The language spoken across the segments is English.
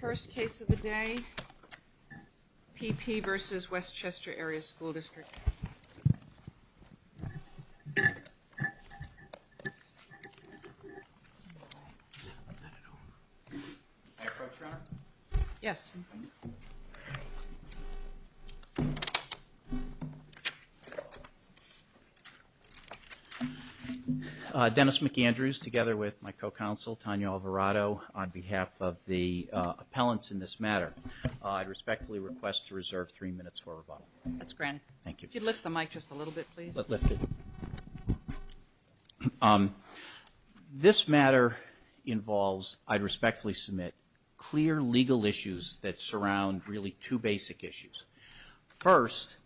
First case of the day, P.P. v. West Chester Area School District. Dennis McAndrews, together with my co-counsel, Tanya Alvarado, on behalf of the appellants in this matter, I respectfully request to reserve three minutes for rebuttal. That's granted. Thank you. If you'd lift the mic just a little bit, please. This matter involves, I respectfully submit, clear legal issues that surround really two basic issues. First,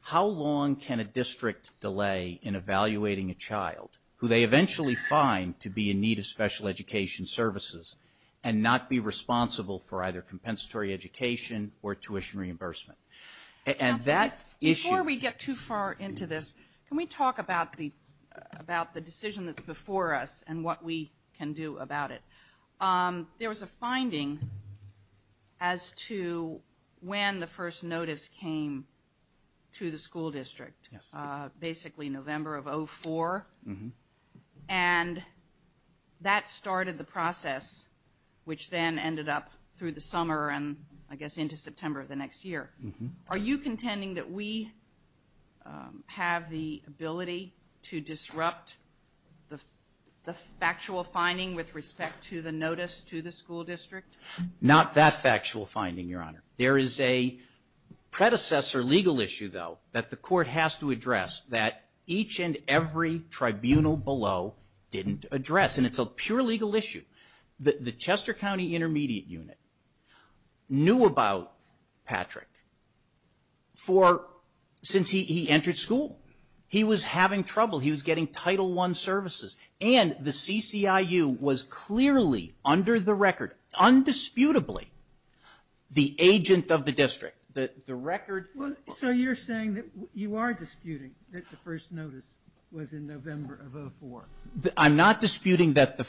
how long can a district delay in evaluating a child who they eventually find to be in need of special education services and not be responsible for either compensatory education or tuition reimbursement? Before we get too far into this, can we talk about the decision that's before us and what we can do about it? There was a finding as to when the first notice came to the school district, basically November of 2004, and that started the process, which then ended up through the summer and I guess Are you contending that we have the ability to disrupt the factual finding with respect to the notice to the school district? Not that factual finding, Your Honor. There is a predecessor legal issue, though, that the court has to address that each and every tribunal below didn't address, and it's a pure legal issue. The Chester County Intermediate Unit knew about Patrick since he entered school. He was having trouble. He was getting Title I services, and the CCIU was clearly under the record, undisputably, the agent of the district. The record... So you're saying that you are disputing that the first notice was in November of 2004? I'm not disputing that the...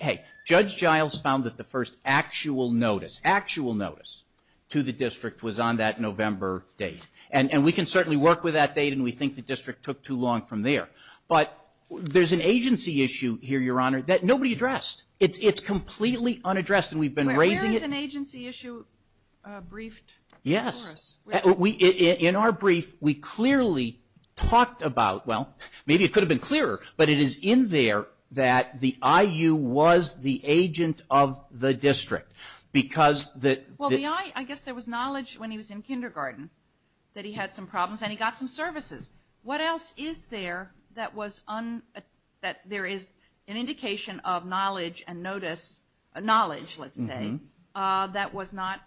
Hey, Judge Giles found that the first actual notice, actual notice, to the district was on that November date, and we can certainly work with that date, and we think the district took too long from there. But there's an agency issue here, Your Honor, that nobody addressed. It's completely unaddressed, and we've been raising it... Where is an agency issue briefed for us? Yes. In our brief, we clearly talked about, well, maybe it could have been clearer, but it is in there that the I.U. was the agent of the district, because the... Well, the I... I guess there was knowledge when he was in kindergarten that he had some problems, and he got some services. What else is there that was... That there is an indication of knowledge and notice, knowledge, let's say, that was not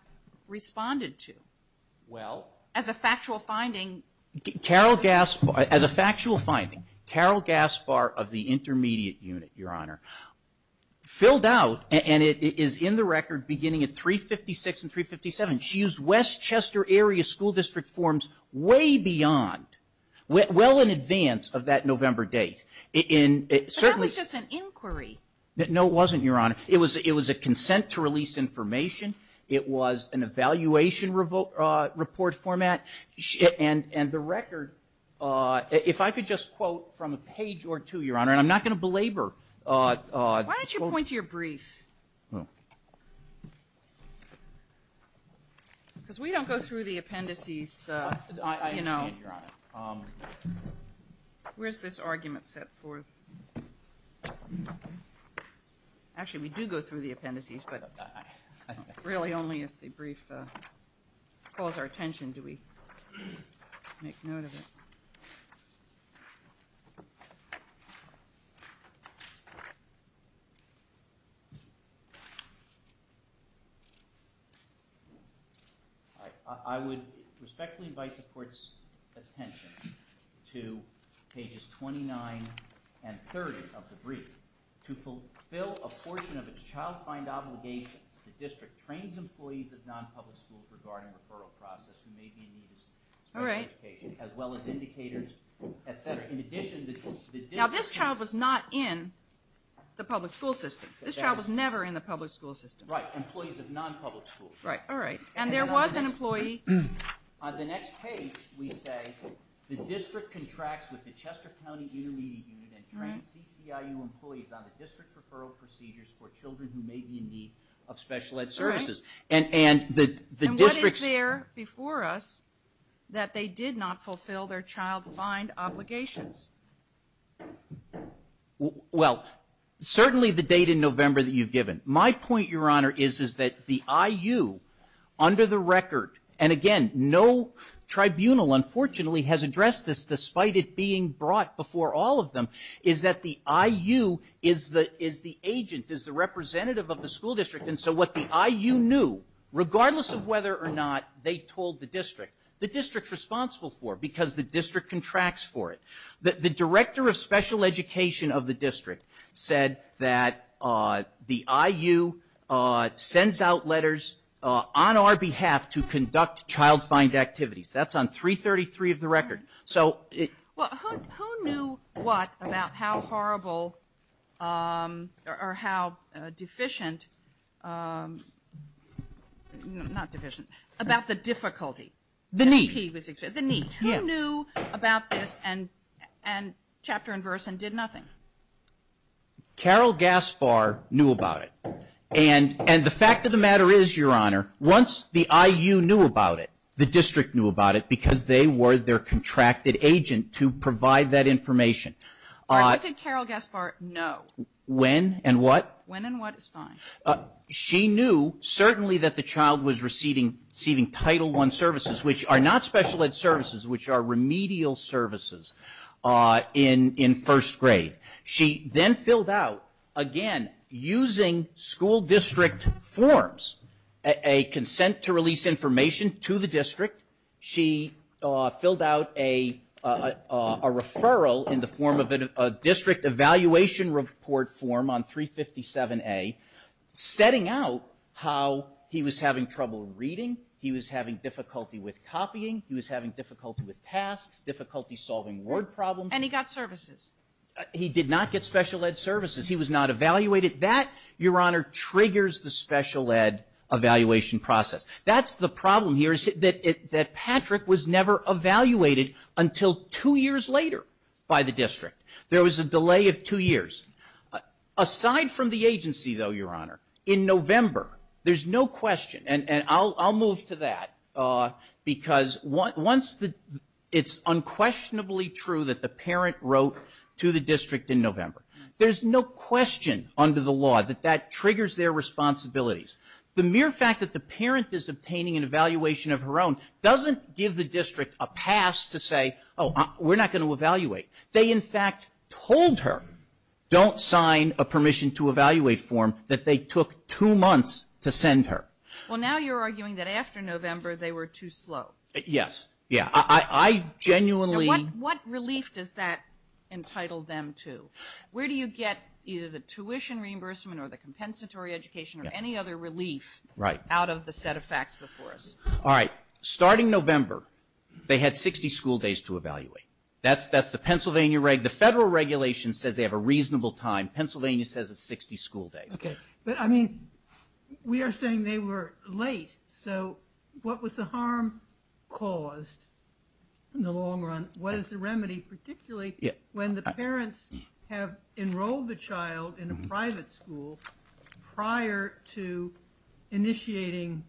responded to? Well... As a factual finding... Carol Gaspar, as a factual finding, Carol Gaspar of the Intermediate Unit, Your Honor, filled out, and it is in the record beginning at 356 and 357, she used West Chester Area School District forms way beyond, well in advance of that November date, in... But that was just an inquiry. No, it wasn't, Your Honor. It was a consent to release information. It was an evaluation report format, and the record, if I could just quote from a page or two, Your Honor, and I'm not going to belabor... Why don't you point to your brief? Because we don't go through the appendices, you know. I understand, Your Honor. Where's this argument set forth? Actually, we do go through the appendices, but really only if the brief calls our attention do we make note of it. All right, I would respectfully invite the Court's attention to pages 29 and 30 of the brief. To fulfill a portion of its child find obligations, the district trains employees of non-public schools regarding referral process who may be in need of special education, as well as indicators, etc. In addition... Now, this child was not in the public school system. This child was never in the public school system. Right, employees of non-public schools. Right, all right. And there was an employee... On the next page, we say, the district contracts with the Chester County Intermediate Unit and trains CCIU employees on the district's referral procedures for children who may be in need of special ed services. All right. And the district's... Well, certainly the date in November that you've given. My point, Your Honor, is that the I.U., under the record, and again, no tribunal, unfortunately, has addressed this despite it being brought before all of them, is that the I.U. is the agent, is the representative of the school district. And so what the I.U. knew, regardless of whether or not they told the district, the district's responsible for it because the district contracts for it. The director of special education of the district said that the I.U. sends out letters on our behalf to conduct child-fined activities. That's on 333 of the record. So... Well, who knew what about how horrible or how deficient, not deficient, about the difficulty? The need. The need. The need. Who knew about this, and chapter and verse, and did nothing? Carol Gaspar knew about it. And the fact of the matter is, Your Honor, once the I.U. knew about it, the district knew about it because they were their contracted agent to provide that information. All right. What did Carol Gaspar know? When and what? When and what is fine. She knew, certainly, that the child was receiving Title I services, which are not special ed services, which are remedial services in first grade. She then filled out, again, using school district forms, a consent to release information to the district. She filled out a referral in the form of a district evaluation report form on 357A, setting out how he was having trouble reading. He was having difficulty with copying. He was having difficulty with tasks, difficulty solving word problems. And he got services. He did not get special ed services. He was not evaluated. That, Your Honor, triggers the special ed evaluation process. That's the problem here, is that Patrick was never evaluated until two years later by the district. There was a delay of two years. Aside from the agency, though, Your Honor, in November, there's no question, and I'll move to that, because it's unquestionably true that the parent wrote to the district in November. There's no question under the law that that triggers their responsibilities. The mere fact that the parent is obtaining an evaluation of her own doesn't give the district a pass to say, oh, we're not going to evaluate. They, in fact, told her, don't sign a permission to evaluate form, that they took two months to send her. Well, now you're arguing that after November they were too slow. Yes. Yeah. I genuinely. What relief does that entitle them to? Where do you get either the tuition reimbursement or the compensatory education or any other relief out of the set of facts before us? All right. Starting November, they had 60 school days to evaluate. That's the Pennsylvania regulation. The federal regulation says they have a reasonable time. Pennsylvania says it's 60 school days. Okay. But, I mean, we are saying they were late. So what was the harm caused in the long run? What is the remedy, particularly when the parents have enrolled the child in a private school prior to initiating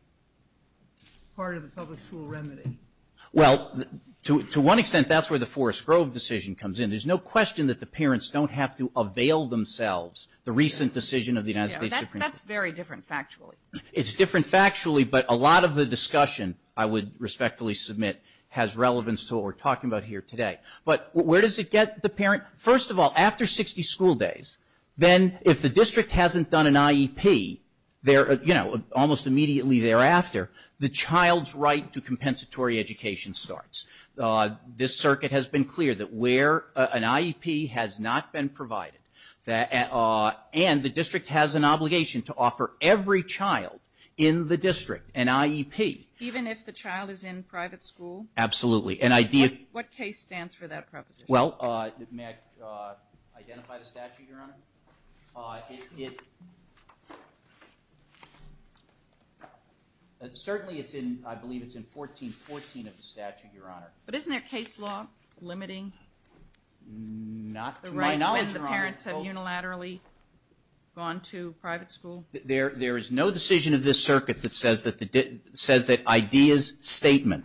part of the public school remedy? Well, to one extent, that's where the Forest Grove decision comes in. There's no question that the parents don't have to avail themselves. The recent decision of the United States Supreme Court. That's very different factually. It's different factually, but a lot of the discussion I would respectfully submit has relevance to what we're talking about here today. But where does it get the parent? First of all, after 60 school days, then if the district hasn't done an IEP, you know, almost immediately thereafter, the child's right to compensatory education starts. This circuit has been clear that where an IEP has not been provided, and the district has an obligation to offer every child in the district an IEP. Even if the child is in private school? Absolutely. What case stands for that proposition? Well, may I identify the statute, Your Honor? Certainly, I believe it's in 1414 of the statute, Your Honor. But isn't there case law limiting? Not to my knowledge, Your Honor. When the parents have unilaterally gone to private school? There is no decision of this circuit that says that IDEA's statement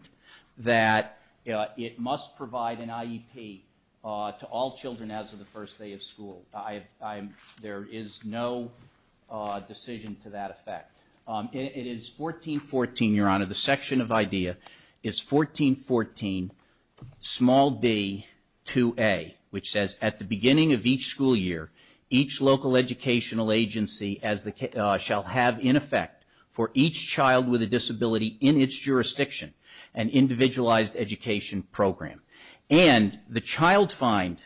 that it must provide an IEP to all children as of the first day of school. There is no decision to that effect. It is 1414, Your Honor, the section of IDEA is 1414, small d, 2A, which says, at the beginning of each school year, each local educational agency shall have in effect for each child with a disability in its jurisdiction an individualized education program. And the child find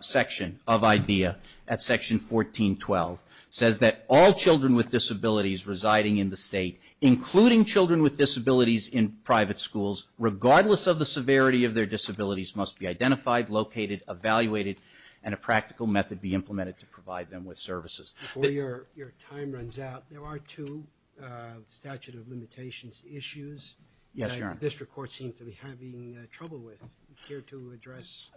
section of IDEA at section 1412 says that all children with disabilities residing in the state, including children with disabilities in private schools, regardless of the severity of their disabilities, must be identified, located, evaluated, and a practical method be implemented to provide them with services. Before your time runs out, there are two statute of limitations issues. Yes, Your Honor. That our district courts seem to be having trouble with here to address.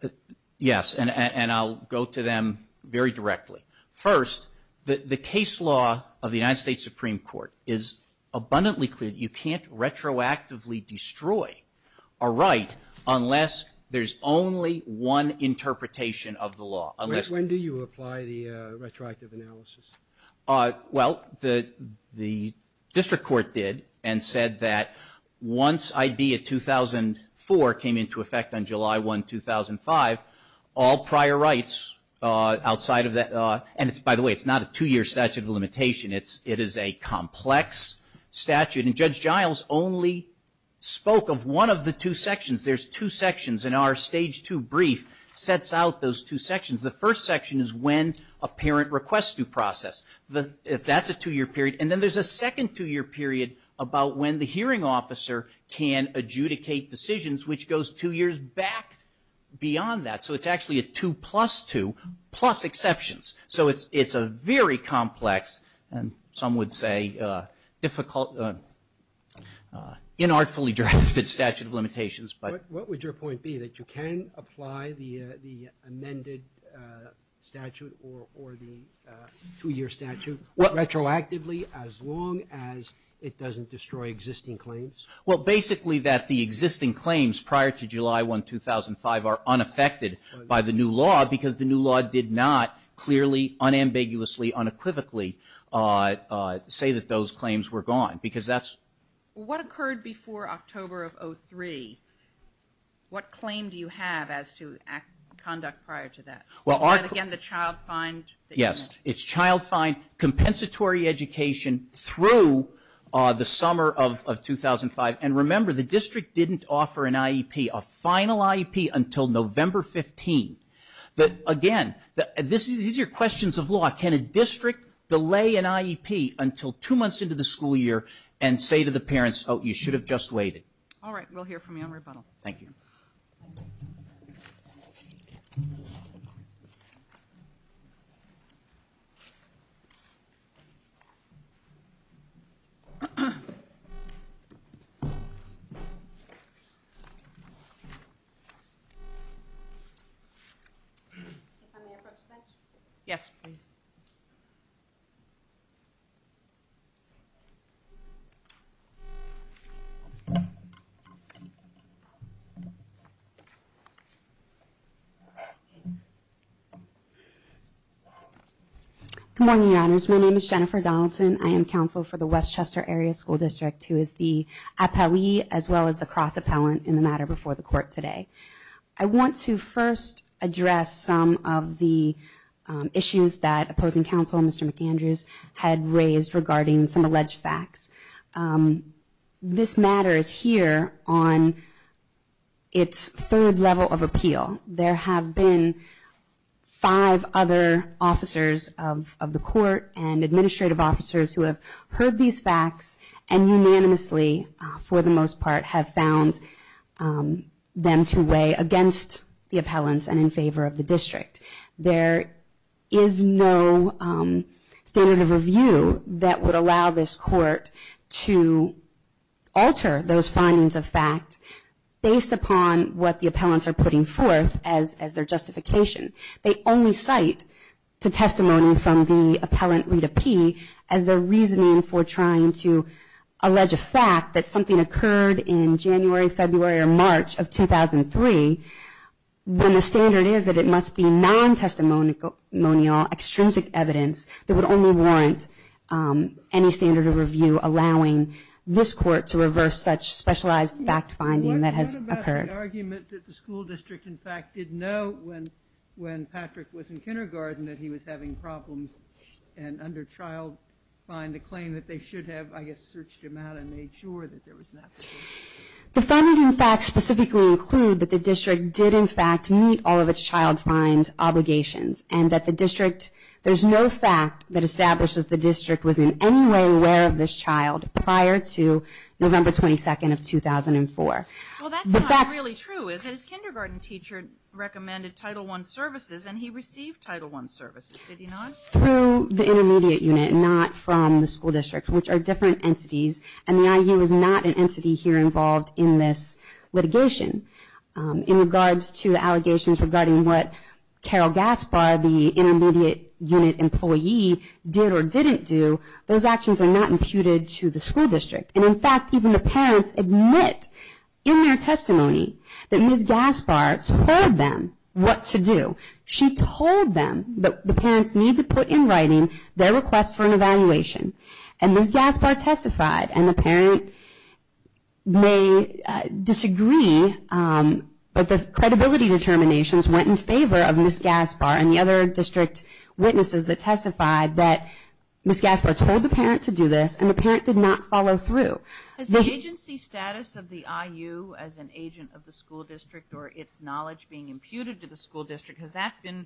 Yes, and I'll go to them very directly. First, the case law of the United States Supreme Court is abundantly clear that you can't retroactively destroy a right unless there's only one interpretation of the law. When do you apply the retroactive analysis? Well, the district court did and said that once IDEA 2004 came into effect on July 1, 2005, all prior rights outside of that, and by the way, it's not a two-year statute of limitation. It is a complex statute, and Judge Giles only spoke of one of the two sections. There's two sections, and our stage two brief sets out those two sections. The first section is when a parent requests due process. If that's a two-year period, and then there's a second two-year period about when the hearing officer can adjudicate decisions, which goes two years back beyond that. So, it's actually a two plus two plus exceptions. So, it's a very complex, and some would say difficult, inartfully drafted statute of limitations. What would your point be, that you can apply the amended statute or the two-year statute retroactively as long as it doesn't destroy existing claims? Well, basically that the existing claims prior to July 1, 2005 are unaffected by the new law, because the new law did not clearly, unambiguously, unequivocally say that those claims were gone, because that's... What occurred before October of 2003? What claim do you have as to conduct prior to that? Is that, again, the child fine? Yes. It's child fine, compensatory education through the summer of 2005. And remember, the district didn't offer an IEP, a final IEP, until November 15. Again, these are questions of law. Can a district delay an IEP until two months into the school year and say to the parents, oh, you should have just waited? All right. We'll hear from you on rebuttal. Thank you. Thank you. Can I have my approach back? Yes, please. Good morning, Your Honors. My name is Jennifer Donaldson. I am counsel for the Westchester Area School District, who is the appellee as well as the cross-appellant in the matter before the court today. I want to first address some of the issues that opposing counsel, Mr. McAndrews, had raised regarding some alleged facts. This matter is here on its third level of appeal. There have been five other officers of the court and administrative officers who have heard these facts and unanimously, for the most part, have found them to weigh against the appellants and in favor of the district. There is no standard of review that would allow this court to alter those findings of what the appellants are putting forth as their justification. They only cite the testimony from the appellant, Rita P., as their reasoning for trying to allege a fact that something occurred in January, February, or March of 2003, when the standard is that it must be non-testimonial, extrinsic evidence that would only warrant any standard of review allowing this court to reverse such specialized fact-finding that has occurred. The argument that the school district, in fact, did know when Patrick was in kindergarten that he was having problems and under child-fine, the claim that they should have, I guess, searched him out and made sure that there was not. The finding facts specifically include that the district did, in fact, meet all of its child-fine obligations and that the district, there's no fact that establishes the district was in any way aware of this child prior to November 22nd of 2004. Well, that's not really true, is it? His kindergarten teacher recommended Title I services, and he received Title I services. Did he not? Through the intermediate unit, not from the school district, which are different entities, and the IU is not an entity here involved in this litigation. In regards to the allegations regarding what Carol Gaspar, the intermediate unit employee, did or didn't do, those actions are not imputed to the school district. In fact, even the parents admit in their testimony that Ms. Gaspar told them what to do. She told them that the parents need to put in writing their request for an evaluation. Ms. Gaspar testified, and the parent may disagree, but the credibility determinations went in favor of Ms. Gaspar and the other district witnesses that testified that Ms. Gaspar told the parent to do this, and the parent did not follow through. Has the agency status of the IU as an agent of the school district or its knowledge being imputed to the school district, has that been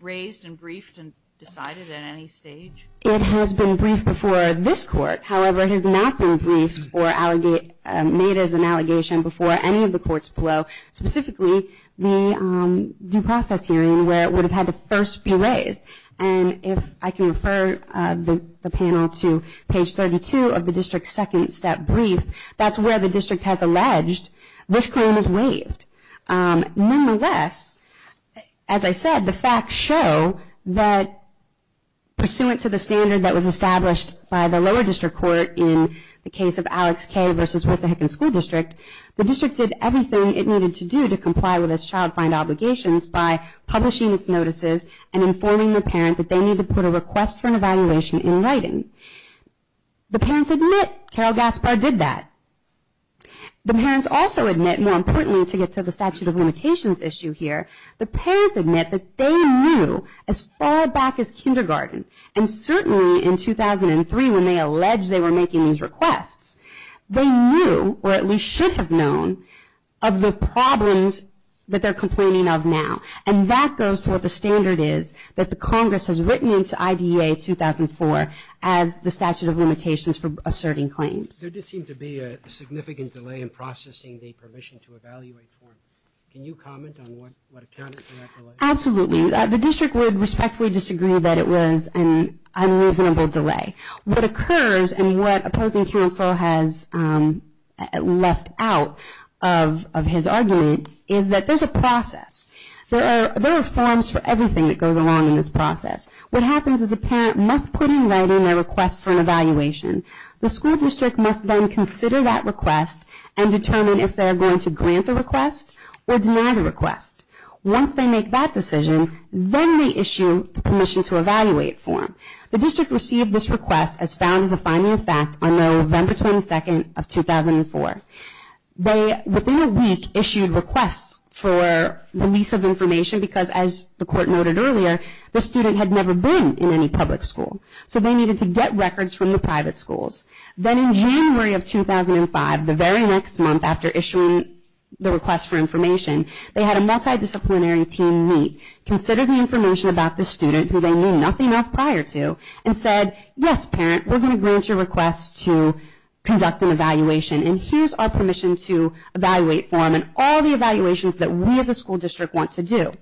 raised and briefed and decided at any stage? It has been briefed before this court. However, it has not been briefed or made as an allegation before any of the courts below, specifically the due process hearing where it would have had to first be raised. And if I can refer the panel to page 32 of the district's second step brief, that's where the district has alleged this claim is waived. Nonetheless, as I said, the facts show that pursuant to the standard that was established by the lower district court in the case of Alex K. versus Wissahickon School District, the district did everything it needed to do to comply with its child find obligations by publishing its notices and informing the parent that they need to put a request for an evaluation in writing. The parents admit Carol Gaspar did that. The parents also admit, more importantly to get to the statute of limitations issue here, the parents admit that they knew as far back as kindergarten, and certainly in 2003 when they alleged they were making these requests, they knew, or at least should have known, of the problems that they're complaining of now. And that goes to what the standard is that the Congress has written into IDEA 2004 as the statute of limitations for asserting claims. There did seem to be a significant delay in processing the permission to evaluate form. Can you comment on what accounted for that delay? Absolutely. The district would respectfully disagree that it was an unreasonable delay. What occurs, and what opposing counsel has left out of his argument, is that there's a process. There are forms for everything that goes along in this process. What happens is a parent must put in writing their request for an evaluation. The school district must then consider that request and determine if they're going to grant the request or deny the request. Once they make that decision, then they issue the permission to evaluate form. The district received this request as found as a finding of fact on November 22nd of 2004. They, within a week, issued requests for release of information because, as the court noted earlier, the student had never been in any public school. So they needed to get records from the private schools. Then in January of 2005, the very next month after issuing the request for information, they had a multidisciplinary team meet, consider the information about the student who they knew nothing of prior to, and said, yes, parent, we're going to grant your request to conduct an evaluation, and here's our permission to evaluate form and all the evaluations that we as a school district want to do.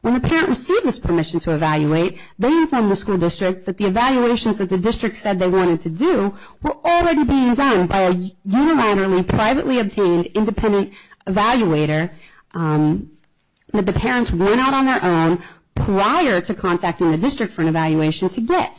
When the parent received this permission to evaluate, they informed the school district that the evaluations that the district said they wanted to do were already being done by a unilaterally, privately obtained, independent evaluator that the parents went out on their own prior to contacting the district for an evaluation to get.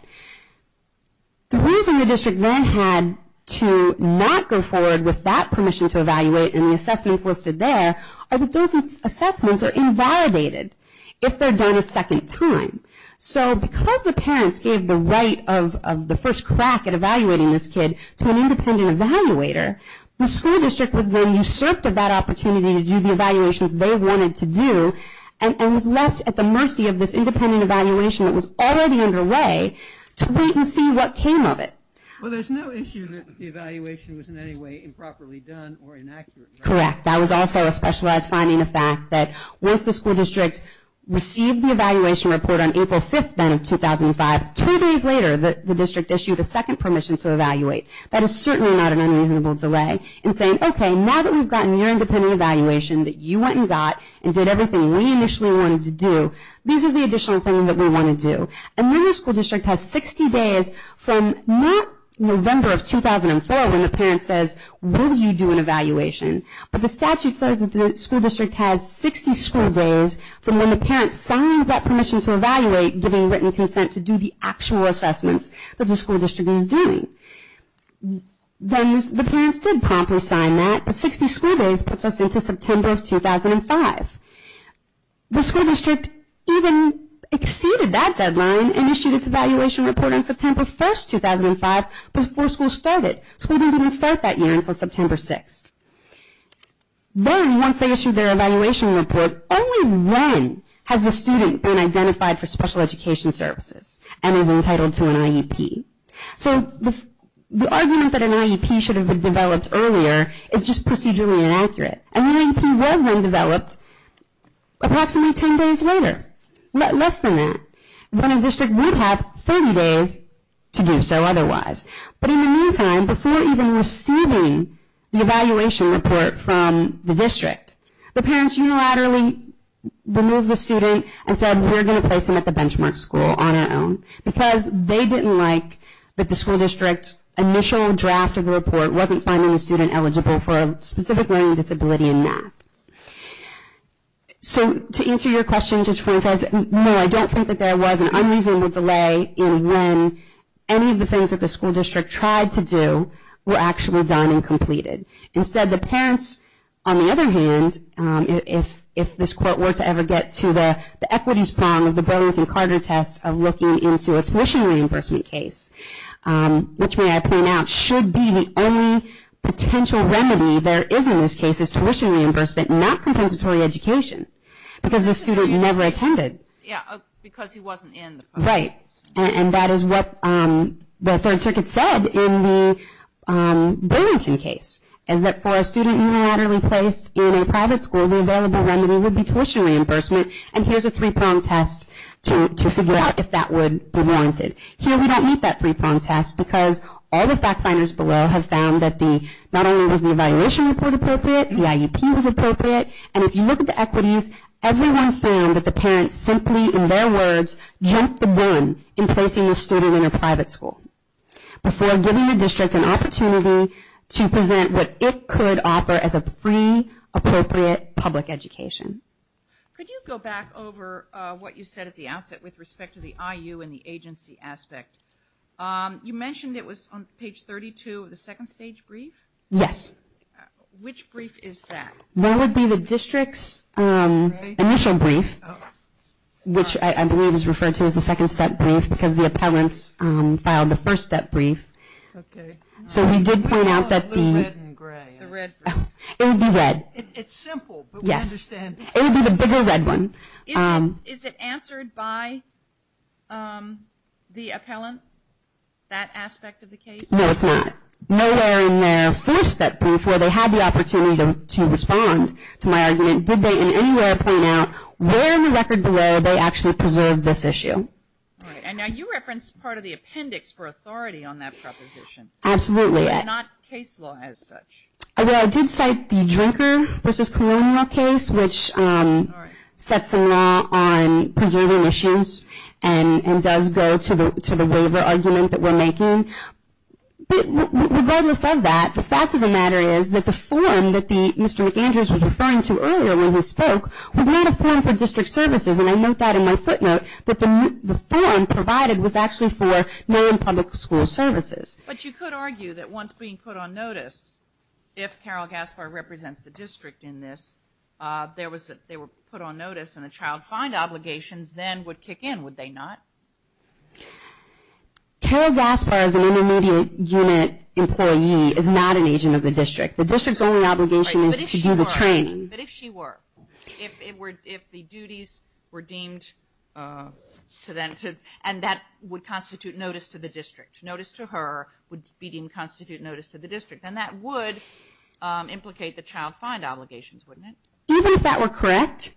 The reason the district then had to not go forward with that permission to evaluate and the assessments listed there are that those assessments are invalidated if they're done a second time. So because the parents gave the right of the first crack at evaluating this kid to an independent evaluator, the school district was then usurped of that opportunity to do the evaluations they wanted to do and was left at the mercy of this independent evaluation that was already underway to wait and see what came of it. Well, there's no issue that the evaluation was in any way improperly done or inaccurate. Correct. That was also a specialized finding of fact that once the school district received the evaluation report on April 5th then of 2005, two days later the district issued a second permission to evaluate. That is certainly not an unreasonable delay in saying, okay, now that we've gotten your independent evaluation that you went and got and did everything we initially wanted to do, these are the additional things that we want to do. And then the school district has 60 days from not November of 2004 when the parent says, will you do an evaluation? But the statute says that the school district has 60 school days from when the parent signs that permission to evaluate giving written consent to do the actual assessments that the school district is doing. Then the parents did promptly sign that, but 60 school days puts us into September of 2005. The school district even exceeded that deadline and issued its evaluation report on September 1st, 2005 before school started. School didn't even start that year until September 6th. Then once they issued their evaluation report, only when has the student been identified for special education services and is entitled to an IEP. So the argument that an IEP should have been developed earlier is just procedurally inaccurate. And the IEP was then developed approximately 10 days later, less than that. When a district would have 30 days to do so otherwise. But in the meantime, before even receiving the evaluation report from the district, the parents unilaterally removed the student and said, we're going to place him at the benchmark school on our own, because they didn't like that the school district's initial draft of the report wasn't finding the student eligible for a specific learning disability in math. So to answer your question, Judge Frank says, no, I don't think that there was an unreasonable delay in when any of the things that the school district tried to do were actually done and completed. Instead, the parents, on the other hand, if this court were to ever get to the equities prong of the Burlington-Carter test of looking into a tuition reimbursement case, which may I point out, should be the only potential remedy there is in this case is tuition reimbursement, not compensatory education. Because the student never attended. Yeah, because he wasn't in. Right. And that is what the Third Circuit said in the Burlington case, is that for a student unilaterally placed in a private school, the only available remedy would be tuition reimbursement. And here's a three prong test to figure out if that would be warranted. Here we don't meet that three prong test, because all the fact finders below have found that not only was the evaluation report appropriate, the IEP was appropriate, and if you look at the equities, everyone found that the parents simply, in their words, jumped the gun in placing the student in a private school. Before giving the district an opportunity to present what it could offer as a free, appropriate public education. Could you go back over what you said at the outset with respect to the IU and the agency aspect? You mentioned it was on page 32 of the second stage brief? Yes. Which brief is that? That would be the district's initial brief, which I believe is referred to as the second step brief, because the appellants filed the first step brief. Okay. So we did point out that the red. It's simple, but we understand it. It would be the bigger red one. Is it answered by the appellant, that aspect of the case? No, it's not. Nowhere in their first step brief where they had the opportunity to respond to my argument, did they in any way point out where in the record below they actually preserved this issue? And now you referenced part of the appendix for authority on that proposition. Absolutely. Not case law as such. I did cite the drinker versus colonial case, which sets the law on preserving issues and does go to the waiver argument that we're making. Regardless of that, the fact of the matter is that the form that Mr. McAndrews was referring to earlier when he spoke was not a form for district services, and I note that in my footnote, that the form provided was actually for non-public school services. But you could argue that once being put on notice, if Carol Gaspar represents the district in this, they were put on notice and the child find obligations then would kick in, would they not? Carol Gaspar is an intermediate unit employee, is not an agent of the district. The district's only obligation is to do the training. But if she were, if the duties were deemed, and that would constitute notice to the district, notice to her would be deemed constitute notice to the district, and that would implicate the child find obligations, wouldn't it? Even if that were correct,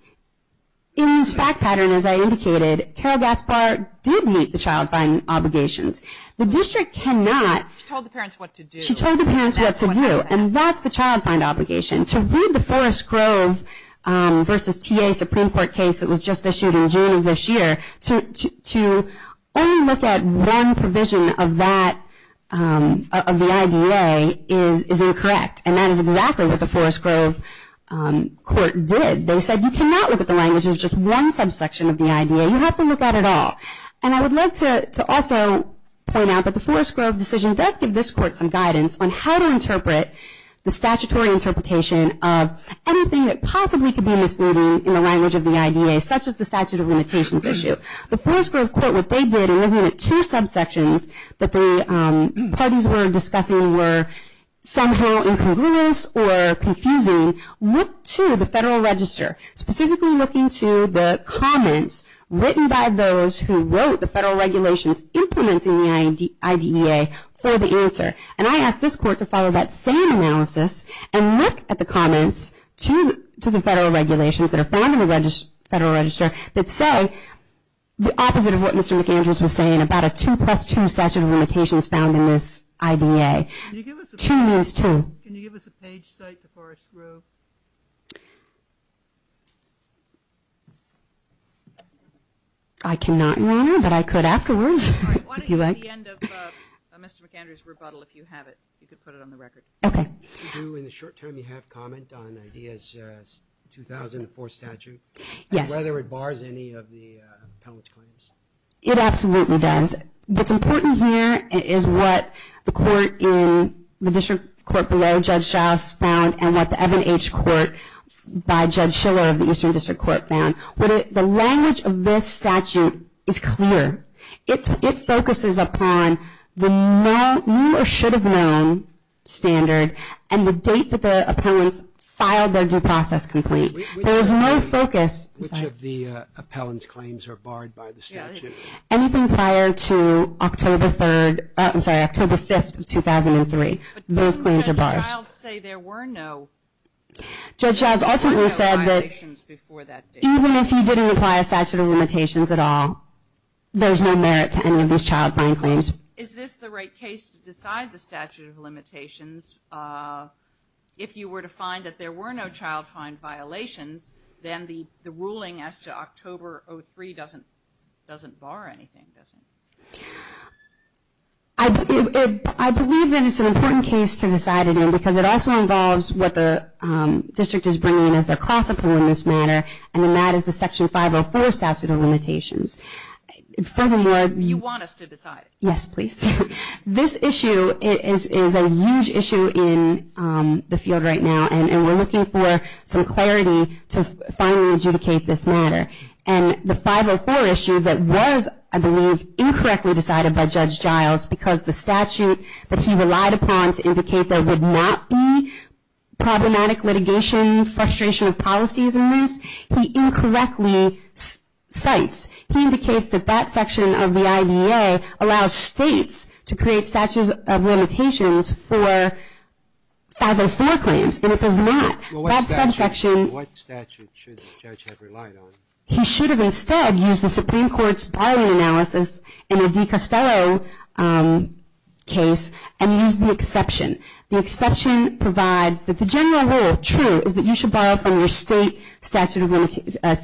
in this fact pattern, as I indicated, Carol Gaspar did meet the child find obligations. The district cannot. She told the parents what to do. She told the parents what to do, and that's the child find obligation. To read the Forest Grove versus TA Supreme Court case that was just issued in June of this year, to only look at one provision of that, of the IDA, is incorrect. And that is exactly what the Forest Grove court did. They said you cannot look at the language of just one subsection of the IDA. You have to look at it all. And I would like to also point out that the Forest Grove decision does give this court some guidance on how to interpret the statutory interpretation of anything that possibly could be misleading in the language of the IDA, such as the statute of limitations issue. The Forest Grove court, what they did in looking at two subsections that the parties were discussing were somehow incongruous or confusing, looked to the federal register, specifically looking to the comments written by those who wrote the federal regulations implementing the IDEA for the answer. And I ask this court to follow that same analysis and look at the comments to the federal regulations that are found in the federal register that say the opposite of what Mr. McAndrews was saying about a 2 plus 2 statute of limitations found in this IDA. Can you give us a page cite to Forest Grove? I cannot, Your Honor, but I could afterwards. I want to hear the end of Mr. McAndrews' rebuttal if you have it. You could put it on the record. Okay. In the short term, you have comment on the IDEA's 2004 statute. Yes. Whether it bars any of the appellant's claims. It absolutely does. What's important here is what the court in the district court below Judge Shouse found and what the Evan H. Court by Judge Schiller of the Eastern District Court found. The language of this statute is clear. It focuses upon the new or should have known standard and the date that the appellants filed their due process complete. Which of the appellant's claims are barred by the statute? Anything prior to October 5th of 2003. Those claims are barred. But didn't Judge Shouse say there were no violations before that date? Even if you didn't apply a statute of limitations at all, there's no merit to any of these child-fine claims. Is this the right case to decide the statute of limitations? If you were to find that there were no child-fine violations, then the ruling as to October 03 doesn't bar anything, does it? I believe that it's an important case to decide it in because it also involves what the district is bringing in and that is the Section 504 statute of limitations. Furthermore, you want us to decide it? Yes, please. This issue is a huge issue in the field right now and we're looking for some clarity to finally adjudicate this matter. And the 504 issue that was, I believe, incorrectly decided by Judge Giles because the statute that he relied upon to indicate there would not be litigation, frustration of policies in this, he incorrectly cites. He indicates that that section of the IDA allows states to create statutes of limitations for 504 claims and it does not. What statute should the judge have relied on? He should have instead used the Supreme Court's barring analysis in the DiCostello case and used the exception. The exception provides that the general rule, true, is that you should borrow from your state statute for a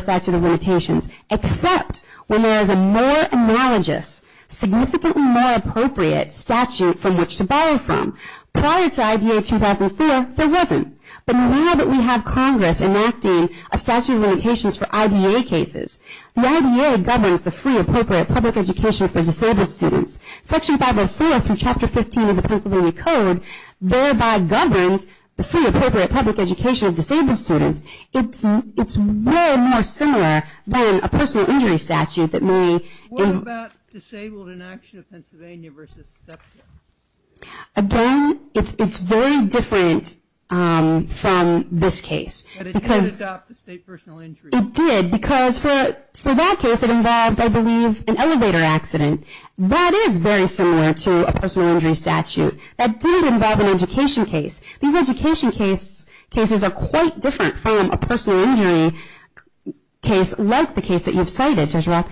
statute of limitations, except when there is a more analogous, significantly more appropriate statute from which to borrow from. Prior to IDA 2004, there wasn't. But now that we have Congress enacting a statute of limitations for IDA cases, the IDA governs the free, appropriate public education for disabled students. Section 504 through Chapter 15 of the Pennsylvania Code thereby governs the free, appropriate public education of disabled students. It's way more similar than a personal injury statute that may. What about disabled inaction of Pennsylvania versus SEPTA? Again, it's very different from this case. But it did adopt the state personal injury. It did because for that case it involved, I believe, an elevator accident. That is very similar to a personal injury statute. That didn't involve an education case. These education cases are quite different from a personal injury case, like the case that you've cited, Jezreel.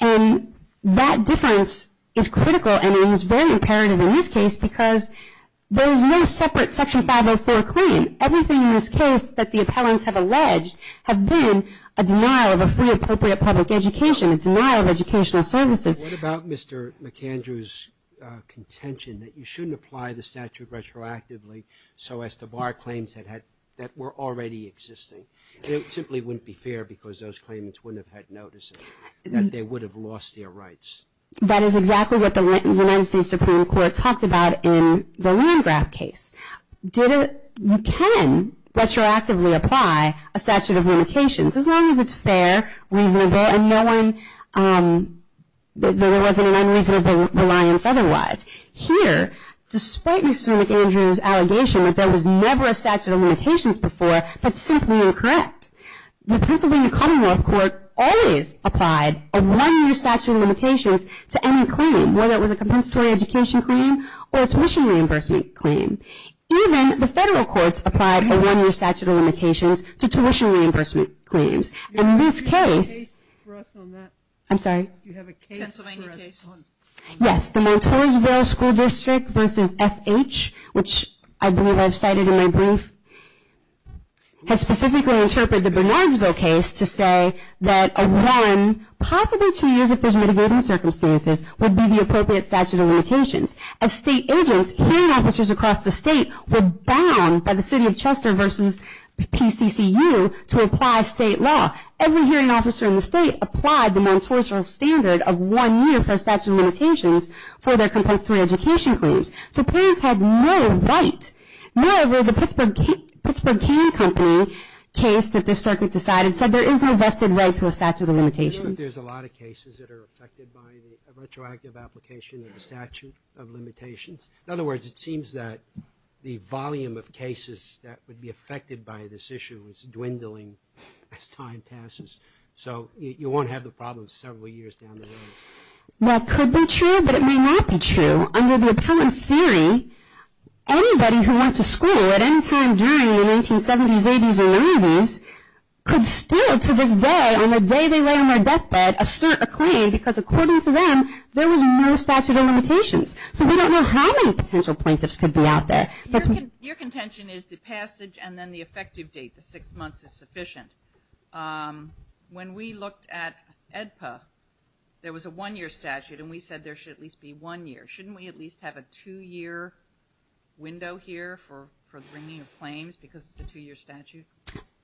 And that difference is critical and is very imperative in this case because there is no separate Section 504 claim. Everything in this case that the appellants have alleged have been a denial of a free, appropriate public education, a denial of educational services. What about Mr. McAndrew's contention that you shouldn't apply the statute retroactively so as to bar claims that were already existing? It simply wouldn't be fair because those claimants wouldn't have had notice that they would have lost their rights. That is exactly what the United States Supreme Court talked about in the Landgraf case. You can retroactively apply a statute of limitations as long as it's fair, reasonable, and knowing that there wasn't an unreasonable reliance otherwise. Here, despite Mr. McAndrew's allegation that there was never a statute of limitations before, that's simply incorrect. The Pennsylvania Commonwealth Court always applied a one-year statute of limitations to any claim, whether it was a compensatory education claim or a tuition reimbursement claim. Even the federal courts applied a one-year statute of limitations to tuition reimbursement claims. In this case... Do you have a case for us on that? I'm sorry? Do you have a case for us on that? Yes, the Montoursville School District v. SH, which I believe I've cited in my brief, has specifically interpreted the Bernardsville case to say that a one, possibly two years if there's mitigating circumstances, would be the appropriate statute of limitations. As state agents, hearing officers across the state were bound by the city of Chester v. PCCU to apply state law. Every hearing officer in the state applied the Montoursville standard of one year for a statute of limitations for their compensatory education claims. So parents had no right. Moreover, the Pittsburgh Cane Company case that this circuit decided said there is no vested right to a statute of limitations. I know that there's a lot of cases that are affected by the retroactive application of a statute of limitations. In other words, it seems that the volume of cases that would be affected by this issue is dwindling as time passes. So you won't have the problem several years down the road. That could be true, but it may not be true. Under the appellant's theory, anybody who went to school at any time during the 1970s, 80s, or 90s could still, to this day, on the day they lay on their deathbed, assert a claim because according to them, there was no statute of limitations. So we don't know how many potential plaintiffs could be out there. Your contention is the passage and then the effective date, the six months, is sufficient. When we looked at AEDPA, there was a one-year statute, and we said there should at least be one year. Shouldn't we at least have a two-year window here for bringing of claims because it's a two-year statute?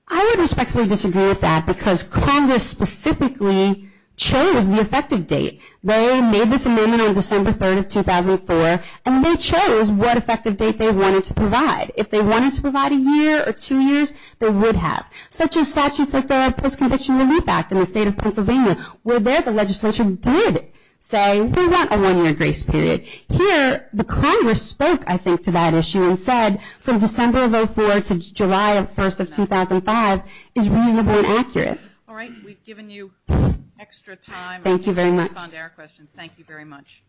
I would respectfully disagree with that because Congress specifically chose the effective date. They made this amendment on December 3rd of 2004, and they chose what effective date they wanted to provide. If they wanted to provide a year or two years, they would have. Such as statutes like the Post-Conviction Relief Act in the state of Pennsylvania, where there the legislature did say we want a one-year grace period. Here, the Congress spoke, I think, to that issue and said from December of 2004 to July 1st of 2005 is reasonably accurate. All right. We've given you extra time. Thank you very much. We can respond to our questions. Thank you very much.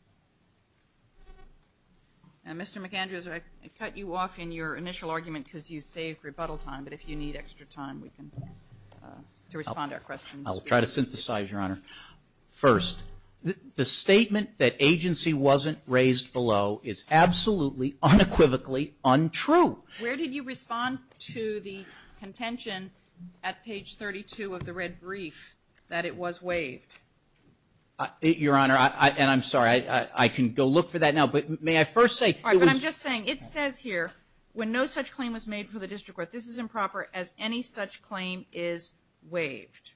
Mr. McAndrews, I cut you off in your initial argument because you saved rebuttal time, but if you need extra time, we can respond to our questions. I'll try to synthesize, Your Honor. First, the statement that agency wasn't raised below is absolutely, unequivocally untrue. Where did you respond to the contention at page 32 of the red brief that it was waived? Your Honor, and I'm sorry. I can go look for that now, but may I first say it was. All right, but I'm just saying it says here, when no such claim was made for the district court, this is improper as any such claim is waived.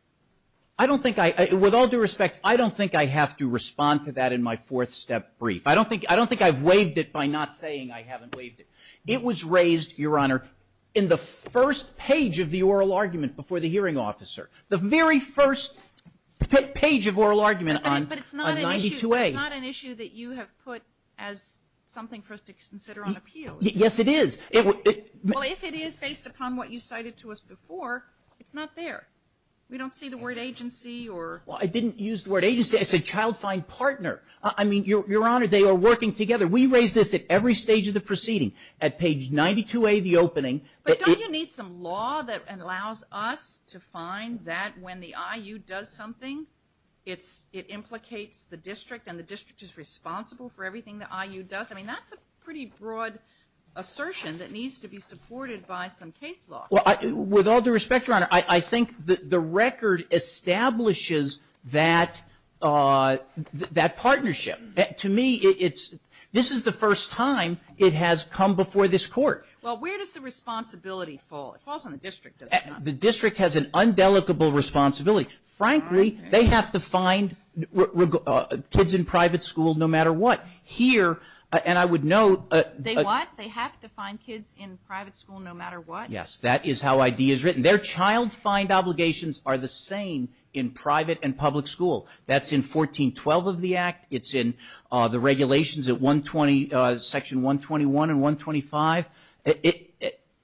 I don't think I, with all due respect, I don't think I have to respond to that in my fourth step brief. I don't think I've waived it by not saying I haven't waived it. It was raised, Your Honor, in the first page of the oral argument before the hearing officer. The very first page of oral argument on 92A. But it's not an issue that you have put as something for us to consider on appeal. Yes, it is. Well, if it is based upon what you cited to us before, it's not there. We don't see the word agency or. Well, I didn't use the word agency. I said child find partner. I mean, Your Honor, they are working together. We raise this at every stage of the proceeding. At page 92A, the opening. But don't you need some law that allows us to find that when the IU does something, it implicates the district and the district is responsible for everything the IU does? I mean, that's a pretty broad assertion that needs to be supported by some case law. Well, with all due respect, Your Honor, I think the record establishes that partnership. To me, this is the first time it has come before this Court. Well, where does the responsibility fall? It falls on the district, doesn't it? The district has an undelicable responsibility. Frankly, they have to find kids in private school no matter what. Here, and I would note. They what? They have to find kids in private school no matter what? Yes, that is how ID is written. Their child find obligations are the same in private and public school. That's in 1412 of the Act. It's in the regulations at Section 121 and 125.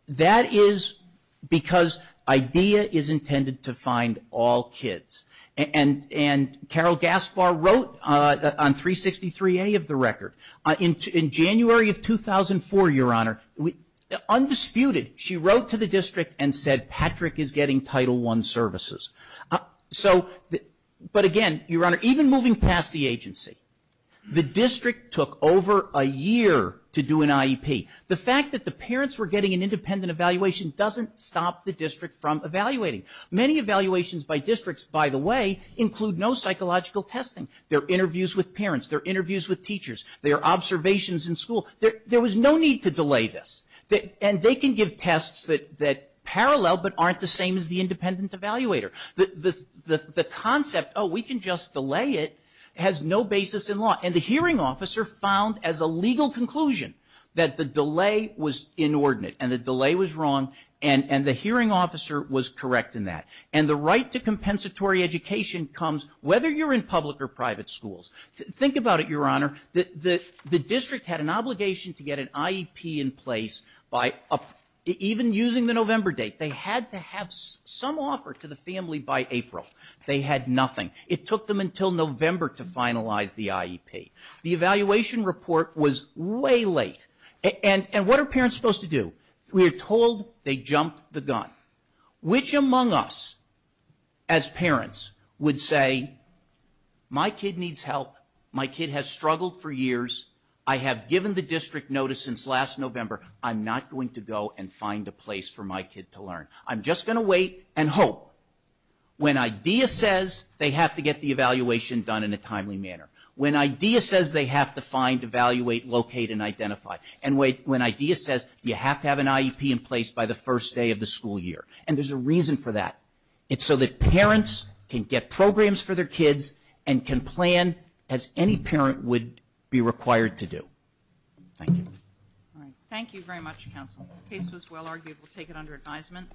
That is because ID is intended to find all kids. And Carol Gaspar wrote on 363A of the record, in January of 2004, Your Honor, undisputed, she wrote to the district and said, Patrick is getting Title I services. So, but again, Your Honor, even moving past the agency, the district took over a year to do an IEP. The fact that the parents were getting an independent evaluation doesn't stop the district from evaluating. Many evaluations by districts, by the way, include no psychological testing. There are interviews with parents. There are interviews with teachers. There are observations in school. There was no need to delay this. And they can give tests that parallel but aren't the same as the independent evaluator. The concept, oh, we can just delay it, has no basis in law. And the hearing officer found as a legal conclusion that the delay was inordinate and the delay was wrong and the hearing officer was correct in that. And the right to compensatory education comes whether you're in public or private schools. Think about it, Your Honor. The district had an obligation to get an IEP in place by even using the November date. They had to have some offer to the family by April. They had nothing. It took them until November to finalize the IEP. The evaluation report was way late. And what are parents supposed to do? We are told they jumped the gun. Which among us as parents would say, my kid needs help, my kid has struggled for years, I have given the district notice since last November, I'm not going to go and find a place for my kid to learn. I'm just going to wait and hope. When IDEA says they have to get the evaluation done in a timely manner, when IDEA says they have to find, evaluate, locate, and identify, and when IDEA says you have to have an IEP in place by the first day of the school year. And there's a reason for that. It's so that parents can get programs for their kids and can plan as any parent would be required to do. Thank you. All right. Thank you very much, Counsel. The case was well argued. We'll take it under advisement.